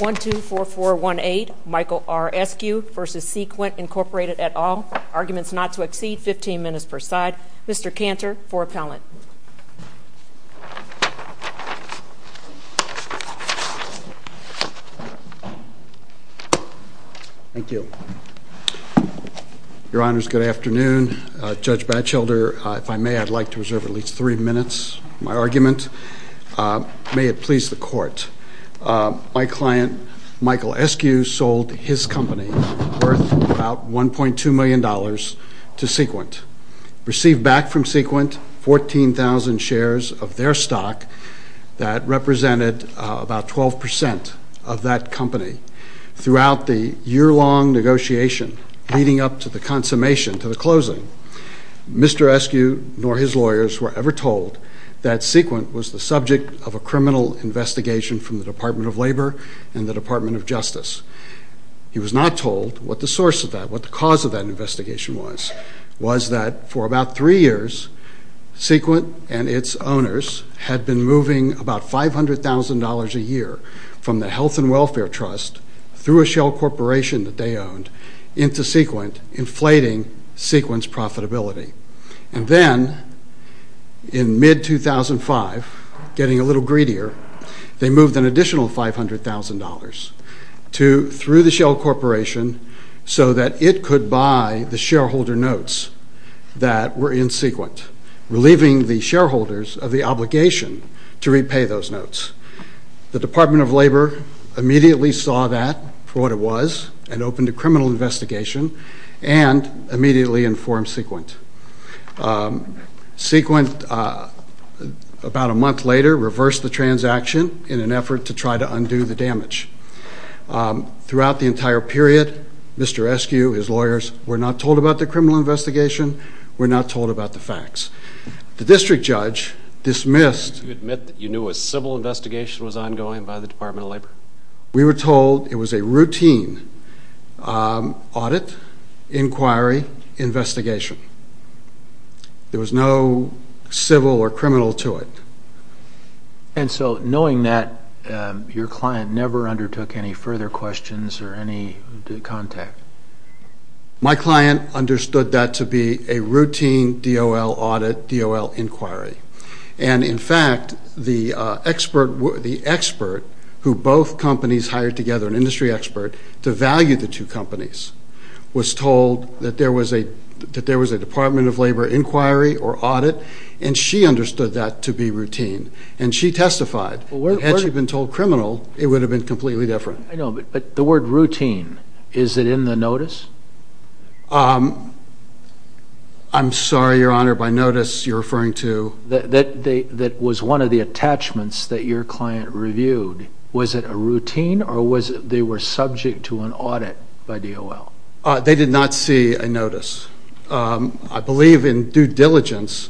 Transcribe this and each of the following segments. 1-2-4-4-1-8 Michael R. Eskew v. Sequent Inc. at all. Arguments not to exceed 15 minutes per side. Mr. Cantor for appellant. Thank you. Your Honors, good afternoon. Judge Batchelder, if I may, I'd like to reserve at least three minutes of my argument. May it please the Court. My client, Michael Eskew, sold his company worth about $1.2 million to Sequent. Received back from Sequent 14,000 shares of their stock that represented about 12% of that company. Throughout the year-long negotiation leading up to the consummation, to the closing, Mr. Eskew nor his lawyers were ever told that Sequent was the subject of a criminal investigation from the Department of Labor and the Department of Justice. He was not told what the source of that, what the cause of that investigation was. Was that for about three years, Sequent and its owners had been moving about $500,000 a year from the Health and Welfare Trust through a shell corporation that they owned into Sequent, inflating Sequent's profitability. And then, in mid-2005, getting a little greedier, they moved an additional $500,000 through the shell corporation so that it could buy the shareholder notes that were in Sequent, relieving the shareholders of the obligation to repay those notes. The Department of Labor immediately saw that for what it was and opened a criminal investigation and immediately informed Sequent. Sequent, about a month later, reversed the transaction in an effort to try to undo the damage. Throughout the entire period, Mr. Eskew, his lawyers, were not told about the criminal investigation, were not told about the facts. The district judge dismissed... Did you admit that you knew a civil investigation was ongoing by the Department of Labor? We were told it was a routine audit, inquiry, investigation. There was no civil or criminal to it. And so, knowing that, your client never undertook any further questions or any contact? My client understood that to be a routine DOL audit, DOL inquiry. And, in fact, the expert who both companies hired together, an industry expert, to value the two companies, was told that there was a Department of Labor inquiry or audit, and she understood that to be routine. And she testified. Had she been told criminal, it would have been completely different. I know, but the word routine, is it in the notice? I'm sorry, Your Honor, by notice, you're referring to... That was one of the attachments that your client reviewed. Was it a routine or they were subject to an audit by DOL? They did not see a notice. I believe, in due diligence,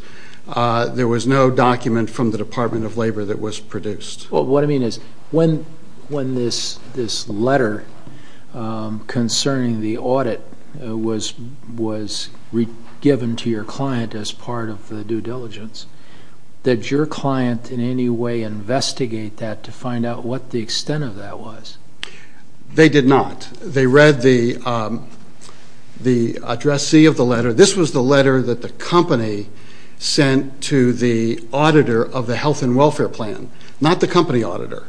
there was no document from the Department of Labor that was produced. What I mean is, when this letter concerning the audit was given to your client as part of the due diligence, did your client in any way investigate that to find out what the extent of that was? They did not. They read the addressee of the letter. This was the letter that the company sent to the auditor of the health and welfare plan, not the company auditor.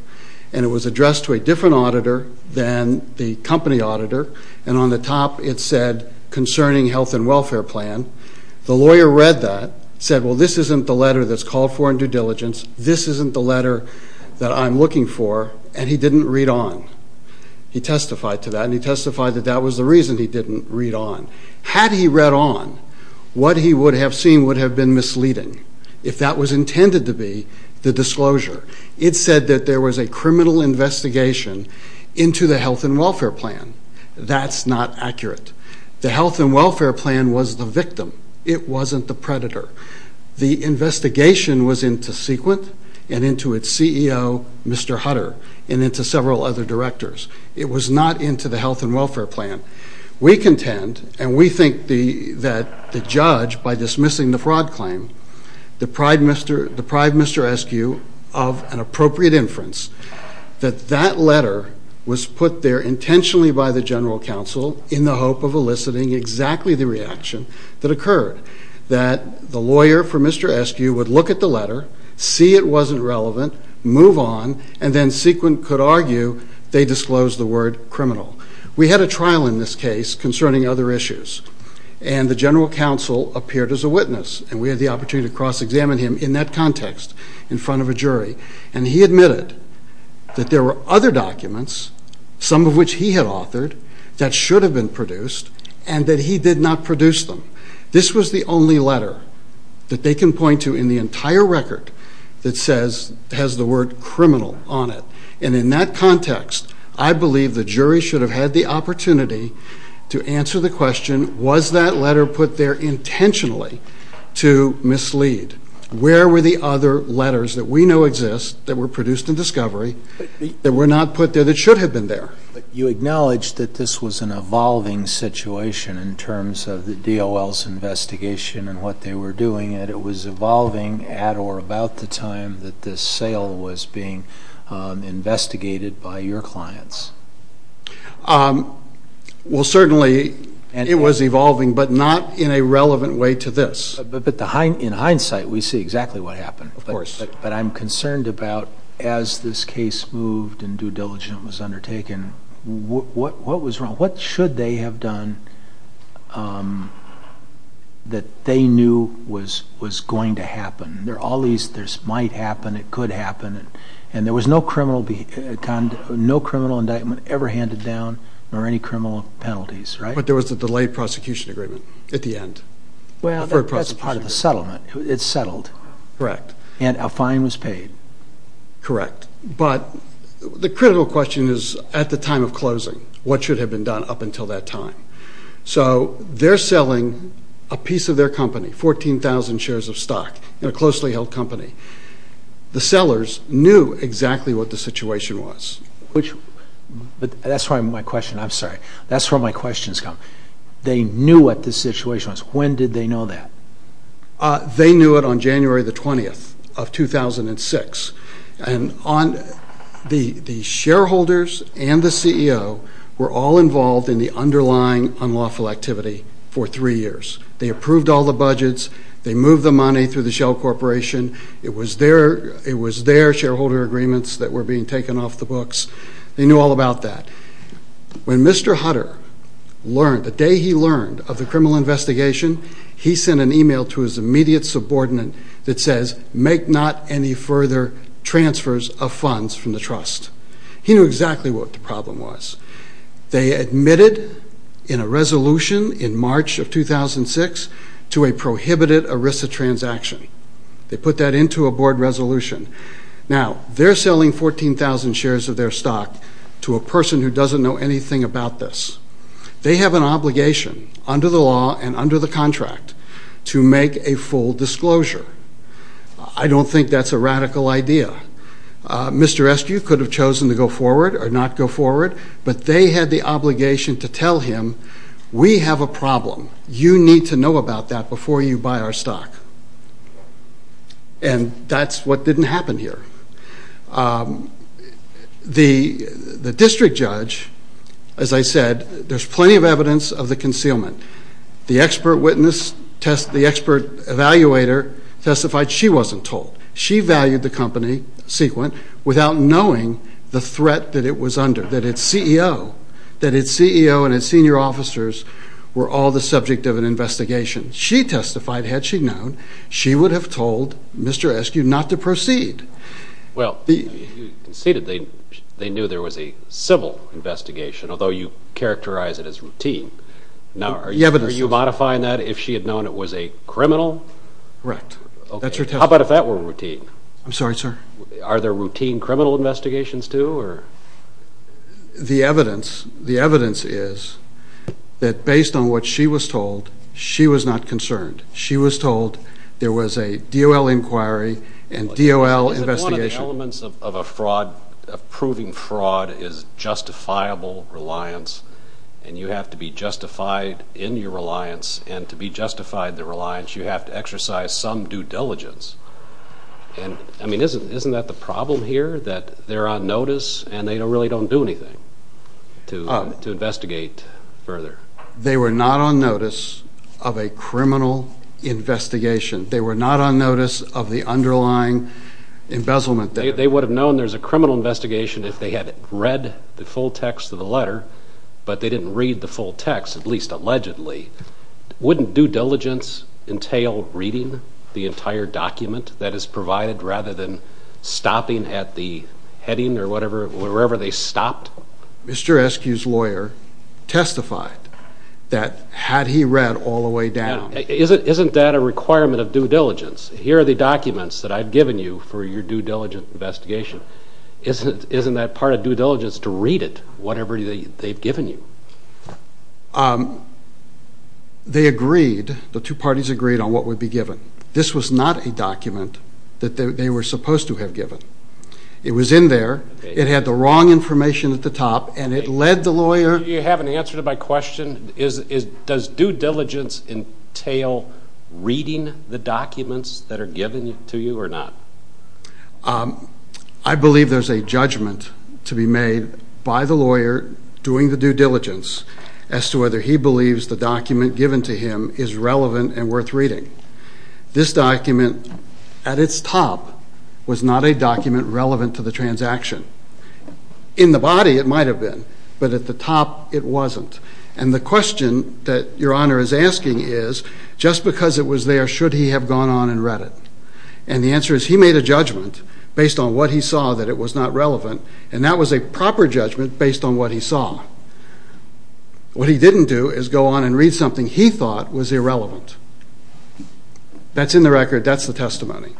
And it was addressed to a different auditor than the company auditor, and on the top it said, concerning health and welfare plan. The lawyer read that, said, well, this isn't the letter that's called for in due diligence, this isn't the letter that I'm looking for, and he didn't read on. He testified to that, and he testified that that was the reason he didn't read on. Had he read on, what he would have seen would have been misleading, if that was intended to be the disclosure. It said that there was a criminal investigation into the health and welfare plan. That's not accurate. The health and welfare plan was the victim. It wasn't the predator. The investigation was into Sequent and into its CEO, Mr. Hutter, and into several other directors. It was not into the health and welfare plan. We contend, and we think that the judge, by dismissing the fraud claim, deprived Mr. Eskew of an appropriate inference, that that letter was put there intentionally by the general counsel in the hope of eliciting exactly the reaction that occurred. That the lawyer for Mr. Eskew would look at the letter, see it wasn't relevant, move on, and then Sequent could argue they disclosed the word criminal. We had a trial in this case concerning other issues, and the general counsel appeared as a witness, and we had the opportunity to cross-examine him in that context in front of a jury. And he admitted that there were other documents, some of which he had authored, that should have been produced, and that he did not produce them. This was the only letter that they can point to in the entire record that says, has the word criminal on it. And in that context, I believe the jury should have had the opportunity to answer the question, was that letter put there intentionally to mislead? Where were the other letters that we know exist, that were produced in discovery, that were not put there that should have been there? You acknowledge that this was an evolving situation in terms of the DOL's investigation and what they were doing, and it was evolving at or about the time that this sale was being investigated by your clients. Well, certainly it was evolving, but not in a relevant way to this. But in hindsight, we see exactly what happened. Of course. But I'm concerned about, as this case moved and due diligence was undertaken, what was wrong? What should they have done that they knew was going to happen? There might happen, it could happen, and there was no criminal indictment ever handed down or any criminal penalties, right? But there was a delayed prosecution agreement at the end. Well, that's part of the settlement. It's settled. Correct. And a fine was paid. Correct. But the critical question is, at the time of closing, what should have been done up until that time? So they're selling a piece of their company, 14,000 shares of stock in a closely held company. The sellers knew exactly what the situation was. But that's where my question, I'm sorry, that's where my questions come. They knew what the situation was. When did they know that? They knew it on January 20, 2006. And the shareholders and the CEO were all involved in the underlying unlawful activity for three years. They approved all the budgets. They moved the money through the Shell Corporation. It was their shareholder agreements that were being taken off the books. They knew all about that. When Mr. Hutter learned, the day he learned of the criminal investigation, he sent an email to his immediate subordinate that says, make not any further transfers of funds from the trust. He knew exactly what the problem was. They admitted in a resolution in March of 2006 to a prohibited ERISA transaction. They put that into a board resolution. Now, they're selling 14,000 shares of their stock to a person who doesn't know anything about this. They have an obligation under the law and under the contract to make a full disclosure. I don't think that's a radical idea. Mr. Eskew could have chosen to go forward or not go forward, but they had the obligation to tell him, we have a problem. You need to know about that before you buy our stock. And that's what didn't happen here. The district judge, as I said, there's plenty of evidence of the concealment. The expert witness, the expert evaluator testified she wasn't told. She valued the company, Sequent, without knowing the threat that it was under, that its CEO, that its CEO and its senior officers were all the subject of an investigation. She testified, had she known, she would have told Mr. Eskew not to proceed. Well, you conceded they knew there was a civil investigation, although you characterize it as routine. Now, are you modifying that if she had known it was a criminal? Correct. That's her testimony. How about if that were routine? I'm sorry, sir? Are there routine criminal investigations too? The evidence is that based on what she was told, she was not concerned. She was told there was a DOL inquiry and DOL investigation. One of the elements of a fraud, of proving fraud, is justifiable reliance, and you have to be justified in your reliance, and to be justified in the reliance, you have to exercise some due diligence. And, I mean, isn't that the problem here, that they're on notice and they really don't do anything to investigate further? They were not on notice of a criminal investigation. They were not on notice of the underlying embezzlement. They would have known there was a criminal investigation if they had read the full text of the letter, but they didn't read the full text, at least allegedly. Wouldn't due diligence entail reading the entire document that is provided rather than stopping at the heading or wherever they stopped? Mr. Eskew's lawyer testified that had he read all the way down. Isn't that a requirement of due diligence? Here are the documents that I've given you for your due diligence investigation. Isn't that part of due diligence to read it, whatever they've given you? They agreed, the two parties agreed on what would be given. This was not a document that they were supposed to have given. It was in there. It had the wrong information at the top, and it led the lawyer. Do you have an answer to my question? Does due diligence entail reading the documents that are given to you or not? I believe there's a judgment to be made by the lawyer doing the due diligence as to whether he believes the document given to him is relevant and worth reading. This document, at its top, was not a document relevant to the transaction. In the body it might have been, but at the top it wasn't. And the question that Your Honor is asking is, just because it was there, should he have gone on and read it? And the answer is he made a judgment based on what he saw that it was not relevant, and that was a proper judgment based on what he saw. What he didn't do is go on and read something he thought was irrelevant. That's in the record. That's the testimony.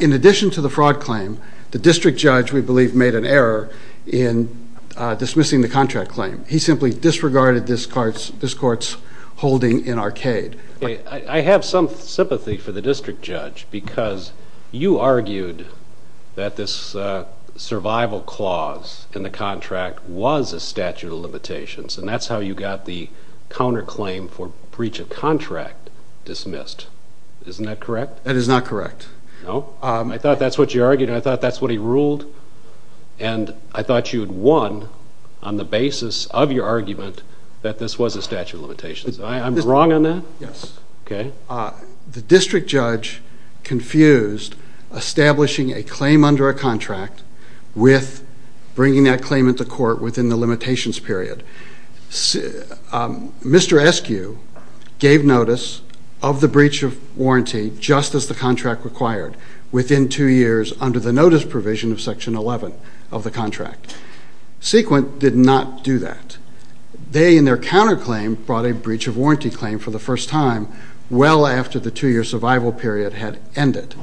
In addition to the fraud claim, the district judge, we believe, made an error in dismissing the contract claim. He simply disregarded this court's holding in Arcade. I have some sympathy for the district judge because you argued that this survival clause in the contract was a statute of limitations, and that's how you got the counterclaim for breach of contract dismissed. Isn't that correct? That is not correct. No? I thought that's what you argued, and I thought that's what he ruled, and I thought you had won on the basis of your argument that this was a statute of limitations. I'm wrong on that? Yes. Okay. The district judge confused establishing a claim under a contract with bringing that claim into court within the limitations period. Mr. Eskew gave notice of the breach of warranty just as the contract required within two years under the notice provision of Section 11 of the contract. Sequent did not do that. They, in their counterclaim, brought a breach of warranty claim for the first time well after the two-year survival period had ended.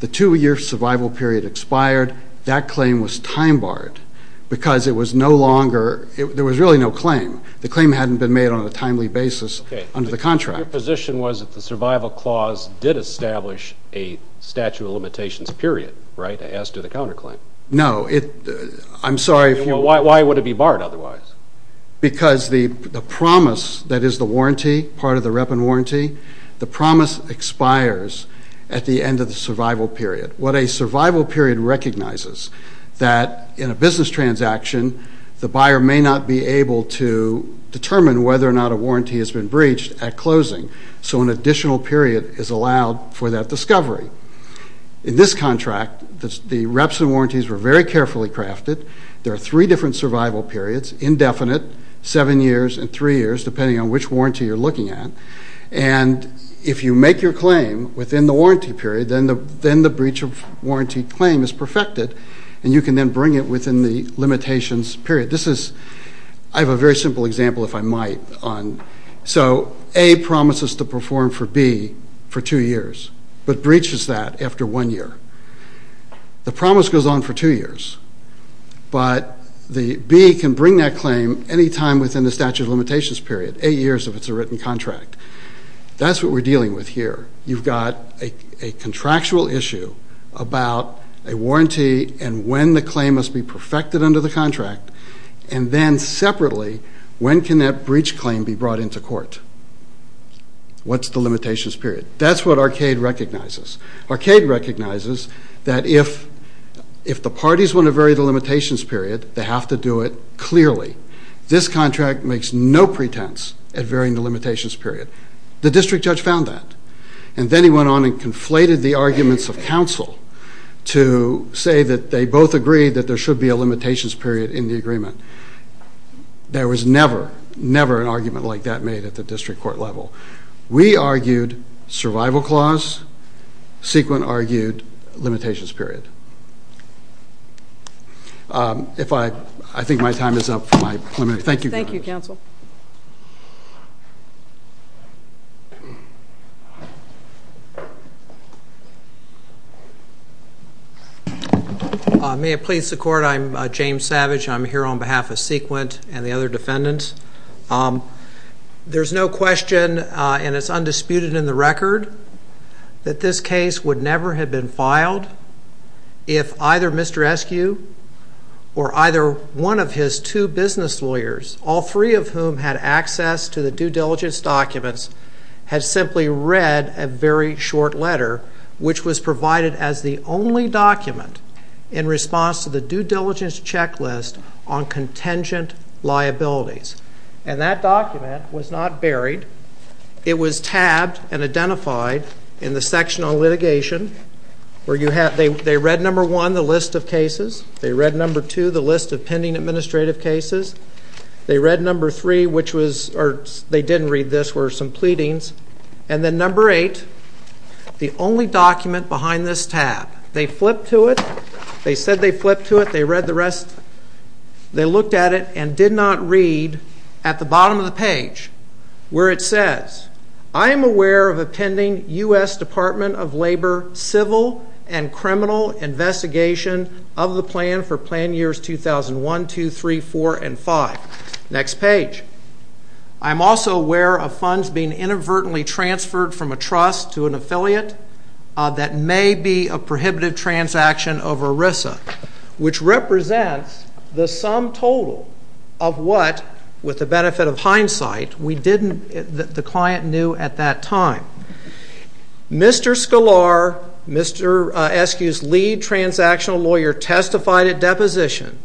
The two-year survival period expired. That claim was time-barred because it was no longer ñ there was really no claim. The claim hadn't been made on a timely basis under the contract. Okay. Your position was that the survival clause did establish a statute of limitations period, right, as to the counterclaim? No. I'm sorry. Why would it be barred otherwise? Because the promise that is the warranty, part of the rep and warranty, the promise expires at the end of the survival period. What a survival period recognizes is that in a business transaction, the buyer may not be able to determine whether or not a warranty has been breached at closing, so an additional period is allowed for that discovery. In this contract, the reps and warranties were very carefully crafted. There are three different survival periods, indefinite, seven years, and three years, depending on which warranty you're looking at. And if you make your claim within the warranty period, then the breach of warranty claim is perfected, and you can then bring it within the limitations period. I have a very simple example, if I might. So A promises to perform for B for two years, but breaches that after one year. The promise goes on for two years, but B can bring that claim any time within the statute of limitations period, eight years if it's a written contract. That's what we're dealing with here. You've got a contractual issue about a warranty and when the claim must be perfected under the contract, and then separately, when can that breach claim be brought into court? What's the limitations period? That's what Arcade recognizes. Arcade recognizes that if the parties want to vary the limitations period, they have to do it clearly. This contract makes no pretense at varying the limitations period. The district judge found that, and then he went on and conflated the arguments of counsel to say that they both agreed that there should be a limitations period in the agreement. There was never, never an argument like that made at the district court level. We argued survival clause. Sequint argued limitations period. I think my time is up. Thank you. Thank you, counsel. May it please the Court? I'm James Savage. I'm here on behalf of Sequint and the other defendants. There's no question, and it's undisputed in the record, that this case would never have been filed if either Mr. Eskew or either one of his two business lawyers, all three of whom had access to the due diligence documents, had simply read a very short letter, which was provided as the only document in response to the due diligence checklist on contingent liabilities. And that document was not buried. It was tabbed and identified in the section on litigation. They read number one, the list of cases. They read number two, the list of pending administrative cases. They read number three, which was, or they didn't read this, were some pleadings. And then number eight, the only document behind this tab. They flipped to it. They said they flipped to it. They read the rest. They looked at it and did not read at the bottom of the page where it says, I am aware of a pending U.S. Department of Labor civil and criminal investigation of the plan for plan years 2001, 2, 3, 4, and 5. Next page. I'm also aware of funds being inadvertently transferred from a trust to an affiliate that may be a prohibitive transaction of ERISA, which represents the sum total of what, with the benefit of hindsight, we didn't, the client knew at that time. Mr. Sklar, SQ's lead transactional lawyer, testified at deposition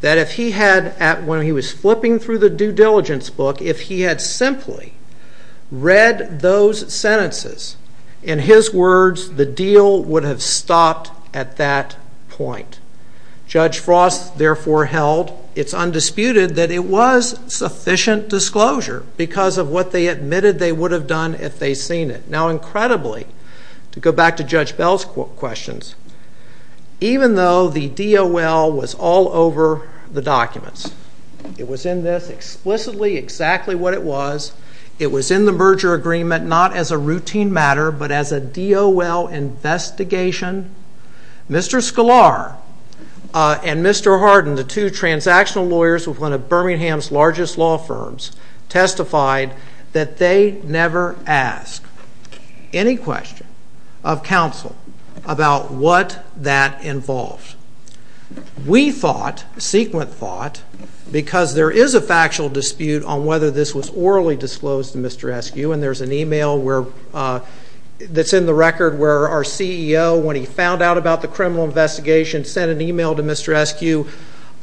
that if he had, when he was flipping through the due diligence book, if he had simply read those sentences, in his words, the deal would have stopped at that point. Judge Frost therefore held, it's undisputed, that it was sufficient disclosure because of what they admitted they would have done if they'd seen it. Now, incredibly, to go back to Judge Bell's questions, even though the DOL was all over the documents, it was in this explicitly exactly what it was, it was in the merger agreement not as a routine matter but as a DOL investigation, Mr. Sklar and Mr. Hardin, the two transactional lawyers with one of Birmingham's largest law firms, testified that they never asked any question of counsel about what that involved. We thought, sequent thought, because there is a factual dispute on whether this was orally disclosed to Mr. SQ, and there's an email that's in the record where our CEO, when he found out about the criminal investigation, sent an email to Mr. SQ,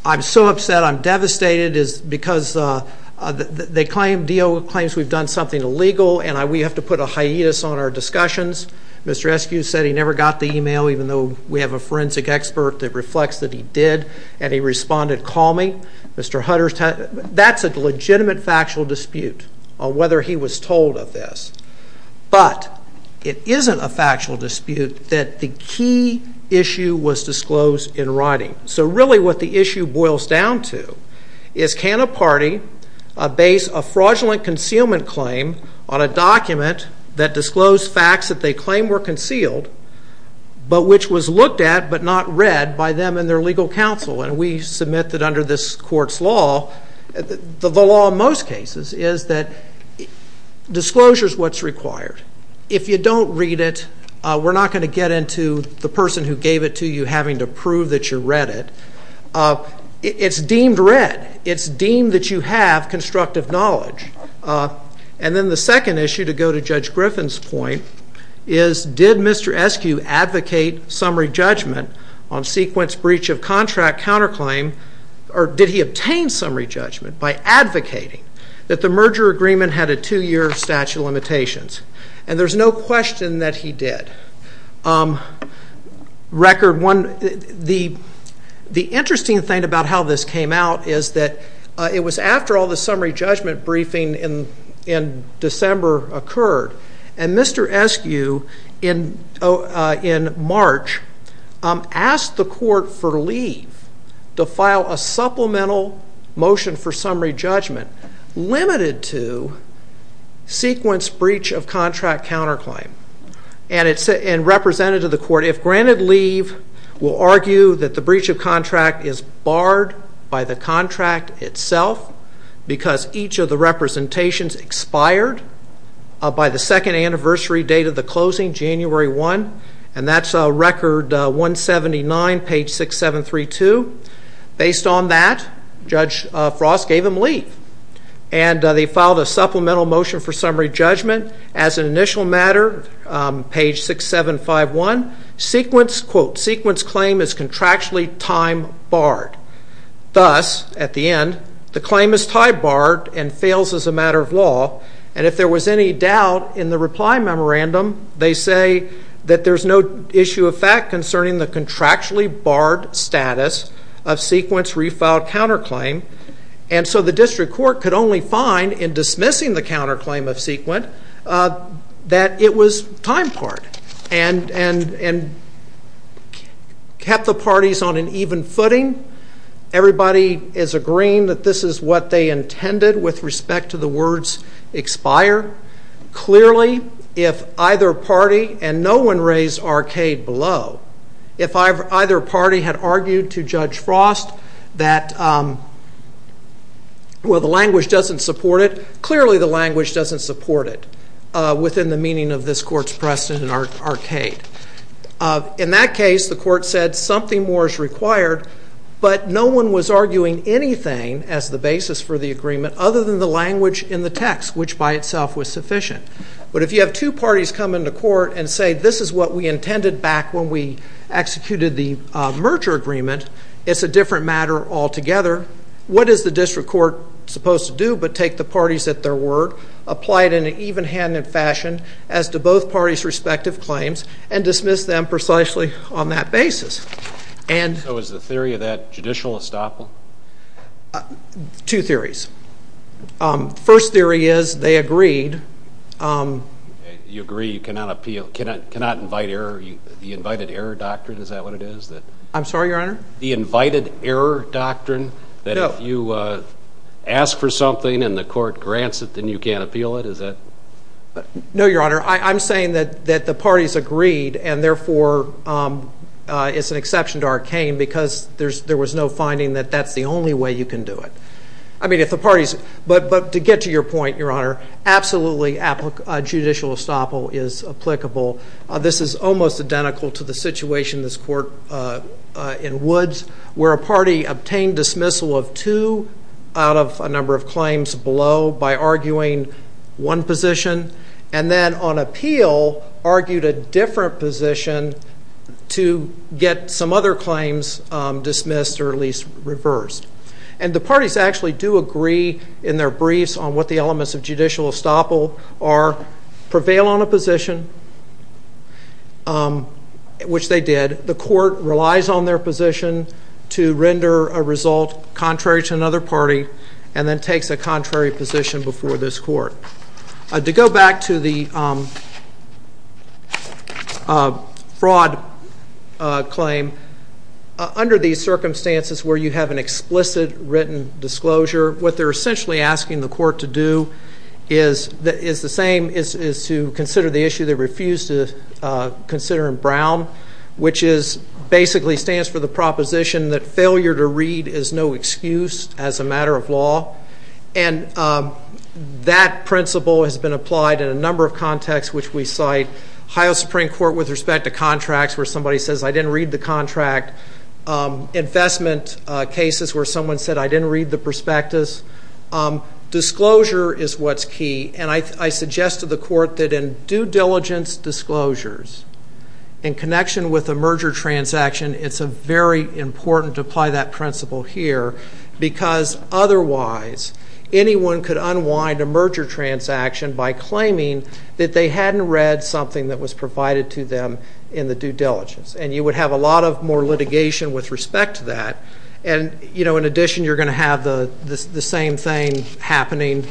I'm so upset, I'm devastated because they claim, DOL claims we've done something illegal and we have to put a hiatus on our discussions. Mr. SQ said he never got the email, even though we have a forensic expert that reflects that he did, and he responded, call me. That's a legitimate factual dispute on whether he was told of this. But it isn't a factual dispute that the key issue was disclosed in writing. So really what the issue boils down to is can a party base a fraudulent concealment claim on a document that disclosed facts that they claim were concealed, but which was looked at but not read by them and their legal counsel. And we submit that under this court's law, the law in most cases, is that disclosure is what's required. If you don't read it, we're not going to get into the person who gave it to you having to prove that you read it. It's deemed read. It's deemed that you have constructive knowledge. And then the second issue, to go to Judge Griffin's point, is did Mr. SQ advocate summary judgment on sequence breach of contract counterclaim, or did he obtain summary judgment by advocating that the merger agreement had a two-year statute of limitations? And there's no question that he did. Record one, the interesting thing about how this came out is that it was after all the summary judgment briefing in December occurred, and Mr. SQ in March asked the court for leave to file a supplemental motion for summary judgment limited to sequence breach of contract counterclaim. And representative of the court, if granted leave, will argue that the breach of contract is barred by the contract itself because each of the representations expired by the second anniversary date of the closing, January 1. And that's record 179, page 6732. Based on that, Judge Frost gave him leave. And they filed a supplemental motion for summary judgment. As an initial matter, page 6751, sequence, quote, sequence claim is contractually time barred. Thus, at the end, the claim is time barred and fails as a matter of law. And if there was any doubt in the reply memorandum, they say that there's no issue of fact concerning the contractually barred status of sequence refiled counterclaim. And so the district court could only find in dismissing the counterclaim of sequence that it was time barred and kept the parties on an even footing. Everybody is agreeing that this is what they intended with respect to the words expire. Clearly, if either party, and no one raised arcade below, if either party had argued to Judge Frost that, well, the language doesn't support it, clearly the language doesn't support it within the meaning of this court's precedent and arcade. In that case, the court said something more is required, but no one was arguing anything as the basis for the agreement other than the language in the text, which by itself was sufficient. But if you have two parties come into court and say this is what we intended back when we executed the merger agreement, it's a different matter altogether. What is the district court supposed to do but take the parties at their word, apply it in an even-handed fashion as to both parties' respective claims, and dismiss them precisely on that basis? So is the theory of that judicial estoppel? Two theories. First theory is they agreed. You agree you cannot appeal, cannot invite error, the invited error doctrine, is that what it is? I'm sorry, Your Honor? The invited error doctrine that if you ask for something and the court grants it, then you can't appeal it, is that? No, Your Honor. I'm saying that the parties agreed and, therefore, it's an exception to arcane because there was no finding that that's the only way you can do it. But to get to your point, Your Honor, absolutely judicial estoppel is applicable. This is almost identical to the situation in this court in Woods, where a party obtained dismissal of two out of a number of claims below by arguing one position and then on appeal argued a different position to get some other claims dismissed or at least reversed. And the parties actually do agree in their briefs on what the elements of judicial estoppel are, prevail on a position, which they did. The court relies on their position to render a result contrary to another party and then takes a contrary position before this court. To go back to the fraud claim, under these circumstances where you have an explicit written disclosure, what they're essentially asking the court to do is the same, is to consider the issue they refused to consider in Brown, which basically stands for the proposition that failure to read is no excuse as a matter of law. And that principle has been applied in a number of contexts, which we cite. High Supreme Court with respect to contracts where somebody says, I didn't read the contract. Investment cases where someone said, I didn't read the prospectus. Disclosure is what's key, and I suggest to the court that in due diligence disclosures, in connection with a merger transaction, it's very important to apply that principle here because otherwise anyone could unwind a merger transaction by claiming that they hadn't read something that was provided to them in the due diligence. And you would have a lot more litigation with respect to that. And in addition, you're going to have the same thing happening.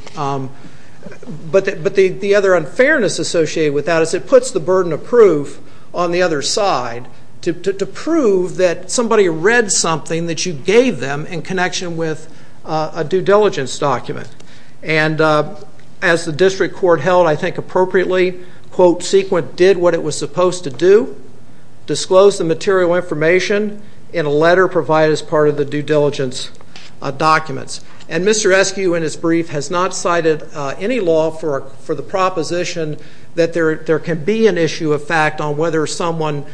But the other unfairness associated with that is it puts the burden of proof on the other side to prove that somebody read something that you gave them in connection with a due diligence document. And as the district court held, I think appropriately, quote, sequent did what it was supposed to do, disclose the material information in a letter provided as part of the due diligence documents. And Mr. Eskew in his brief has not cited any law for the proposition that there can be an issue of fact on whether someone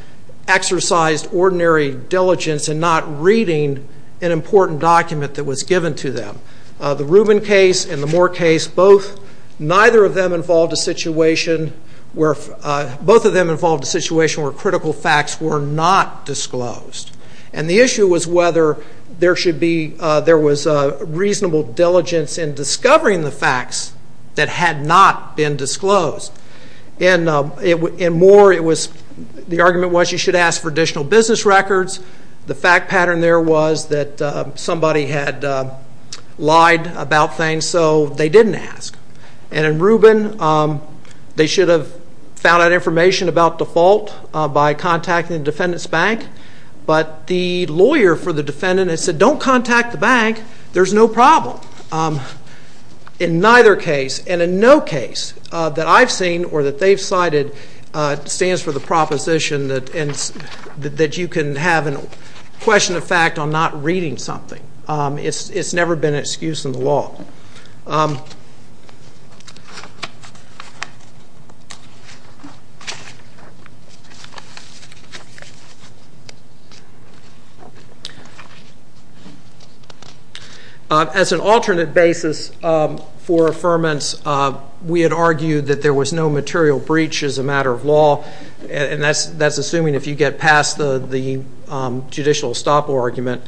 exercised ordinary diligence in not reading an important document that was given to them. The Rubin case and the Moore case, both of them involved a situation where critical facts were not disclosed. And the issue was whether there was reasonable diligence in discovering the facts that had not been disclosed. In Moore, the argument was you should ask for additional business records. The fact pattern there was that somebody had lied about things, so they didn't ask. And in Rubin, they should have found out information about default by contacting the defendant's bank. But the lawyer for the defendant had said, don't contact the bank. There's no problem. In neither case, and in no case, that I've seen or that they've cited stands for the proposition that you can have a question of fact on not reading something. It's never been an excuse in the law. As an alternate basis for affirmance, we had argued that there was no material breach as a matter of law. And that's assuming if you get past the judicial estoppel argument.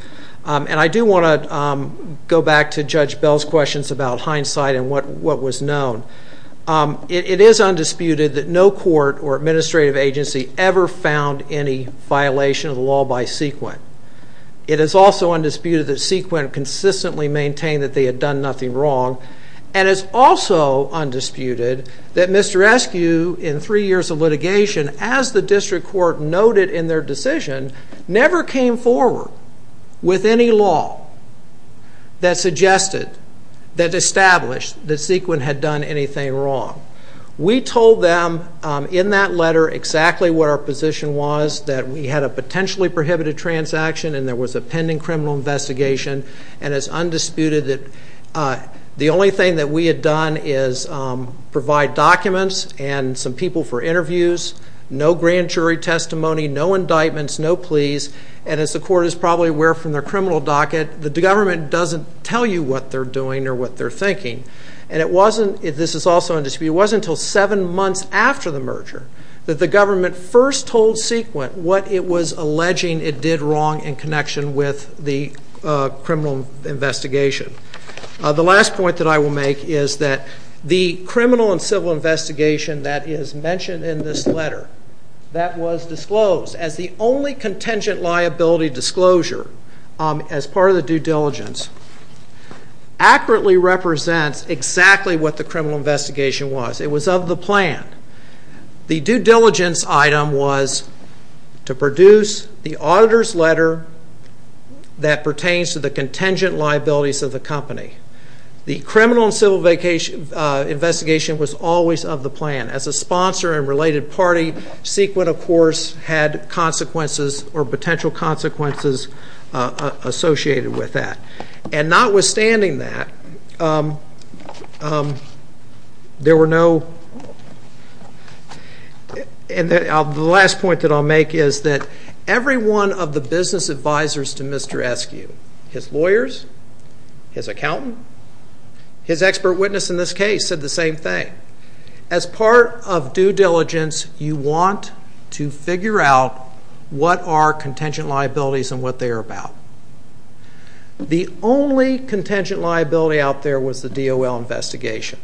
And I do want to go back to Judge Bell's questions about Heine's case. It is undisputed that no court or administrative agency ever found any violation of the law by sequent. It is also undisputed that sequent consistently maintained that they had done nothing wrong. And it's also undisputed that Mr. Eskew, in three years of litigation, as the district court noted in their decision, never came forward with any law that suggested, that established, that sequent had done anything wrong. We told them in that letter exactly what our position was, that we had a potentially prohibited transaction, and there was a pending criminal investigation. And it's undisputed that the only thing that we had done is provide documents and some people for interviews. No grand jury testimony, no indictments, no pleas. And as the court is probably aware from their criminal docket, the government doesn't tell you what they're doing or what they're thinking. And it wasn't, this is also undisputed, it wasn't until seven months after the merger that the government first told sequent what it was alleging it did wrong in connection with the criminal investigation. The last point that I will make is that the criminal and civil investigation that is mentioned in this letter, that was disclosed as the only contingent liability disclosure as part of the due diligence, accurately represents exactly what the criminal investigation was. It was of the plan. The due diligence item was to produce the auditor's letter that pertains to the contingent liabilities of the company. The criminal and civil investigation was always of the plan. As a sponsor and related party, sequent, of course, had consequences or potential consequences associated with that. And notwithstanding that, there were no, and the last point that I'll make is that every one of the business advisors to Mr. Eskew, his lawyers, his accountant, his expert witness in this case said the same thing. As part of due diligence, you want to figure out what are contingent liabilities and what they are about. The only contingent liability out there was the DOL investigation.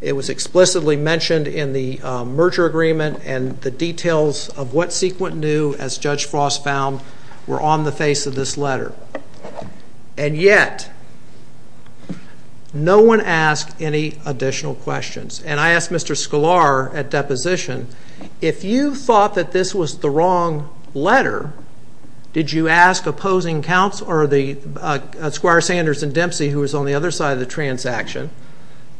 It was explicitly mentioned in the merger agreement and the details of what sequent knew, as Judge Frost found, were on the face of this letter. And yet, no one asked any additional questions. And I asked Mr. Sklar at deposition, if you thought that this was the wrong letter, did you ask opposing counts or the Sklar, Sanders, and Dempsey, who was on the other side of the transaction,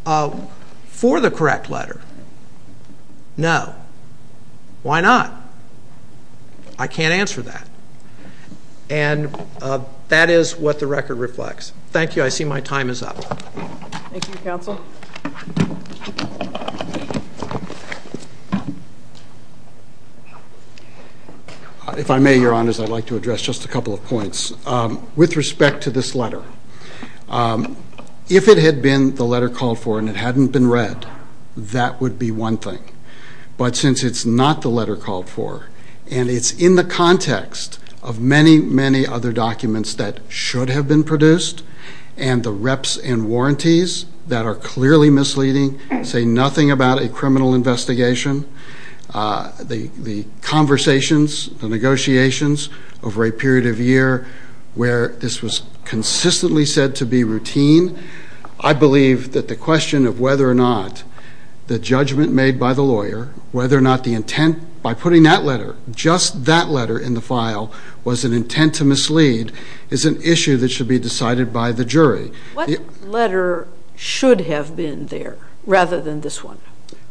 for the correct letter? No. Why not? I can't answer that. And that is what the record reflects. Thank you. I see my time is up. Thank you, counsel. Counsel? If I may, Your Honors, I'd like to address just a couple of points. With respect to this letter, if it had been the letter called for and it hadn't been read, that would be one thing. But since it's not the letter called for, and it's in the context of many, many other documents that should have been produced and the reps and warranties that are clearly misleading, say nothing about a criminal investigation, the conversations, the negotiations over a period of year where this was consistently said to be routine, I believe that the question of whether or not the judgment made by the lawyer, whether or not the intent by putting that letter, just that letter in the file, was an intent to mislead is an issue that should be decided by the jury. What letter should have been there rather than this one?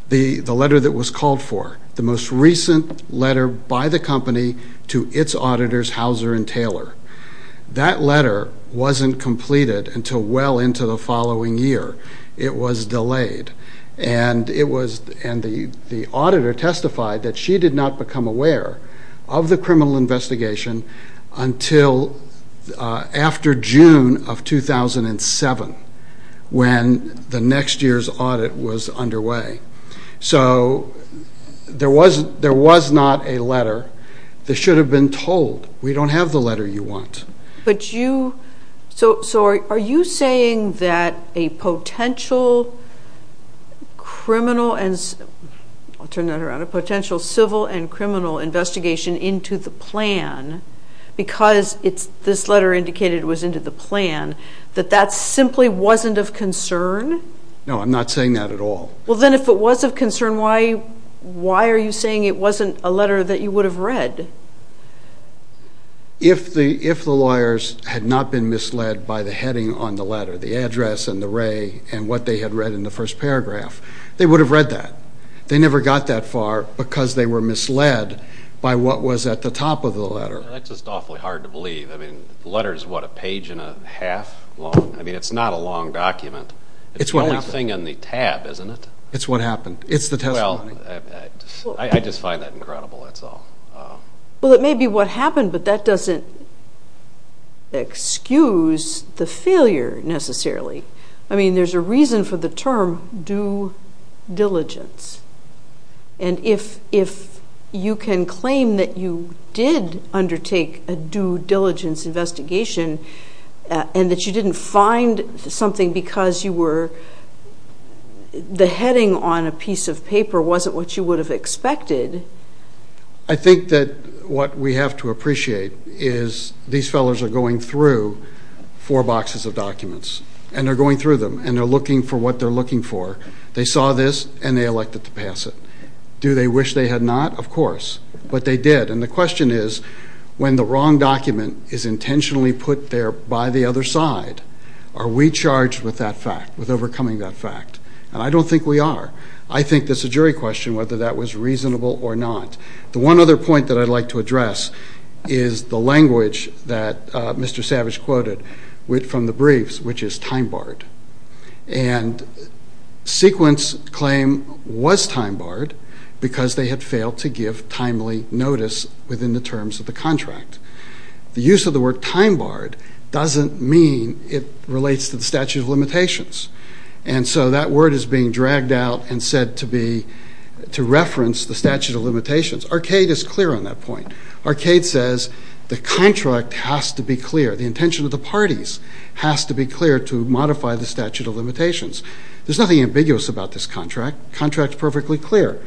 The letter that was called for, the most recent letter by the company to its auditors, Hauser and Taylor. That letter wasn't completed until well into the following year. It was delayed. And the auditor testified that she did not become aware of the criminal investigation until after June of 2007 when the next year's audit was underway. So there was not a letter that should have been told, we don't have the letter you want. So are you saying that a potential criminal, I'll turn that around, a potential civil and criminal investigation into the plan, because this letter indicated it was into the plan, that that simply wasn't of concern? No, I'm not saying that at all. Well, then if it was of concern, why are you saying it wasn't a letter that you would have read? If the lawyers had not been misled by the heading on the letter, the address and the ray and what they had read in the first paragraph, they would have read that. They never got that far because they were misled by what was at the top of the letter. That's just awfully hard to believe. I mean, the letter is, what, a page and a half long? I mean, it's not a long document. It's the only thing in the tab, isn't it? It's what happened. It's the testimony. I just find that incredible, that's all. Well, it may be what happened, but that doesn't excuse the failure necessarily. I mean, there's a reason for the term due diligence. And if you can claim that you did undertake a due diligence investigation and that you didn't find something because you were, the heading on a piece of paper wasn't what you would have expected. I think that what we have to appreciate is these fellows are going through four boxes of documents and they're going through them and they're looking for what they're looking for. They saw this and they elected to pass it. Do they wish they had not? Of course. But they did. And the question is, when the wrong document is intentionally put there by the other side, are we charged with that fact, with overcoming that fact? And I don't think we are. I think there's a jury question whether that was reasonable or not. The one other point that I'd like to address is the language that Mr. Savage quoted from the briefs, which is time barred. And sequence claim was time barred because they had failed to give timely notice within the terms of the contract. The use of the word time barred doesn't mean it relates to the statute of limitations. And so that word is being dragged out and said to reference the statute of limitations. Arcade is clear on that point. Arcade says the contract has to be clear. The intention of the parties has to be clear to modify the statute of limitations. There's nothing ambiguous about this contract. The contract is perfectly clear.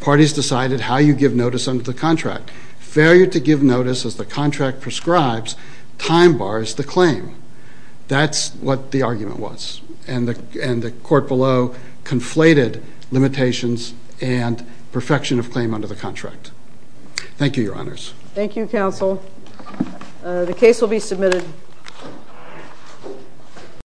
Parties decided how you give notice under the contract. Failure to give notice as the contract prescribes time bars the claim. That's what the argument was. And the court below conflated limitations and perfection of claim under the contract. Thank you, Your Honors. Thank you, Counsel. The case will be submitted.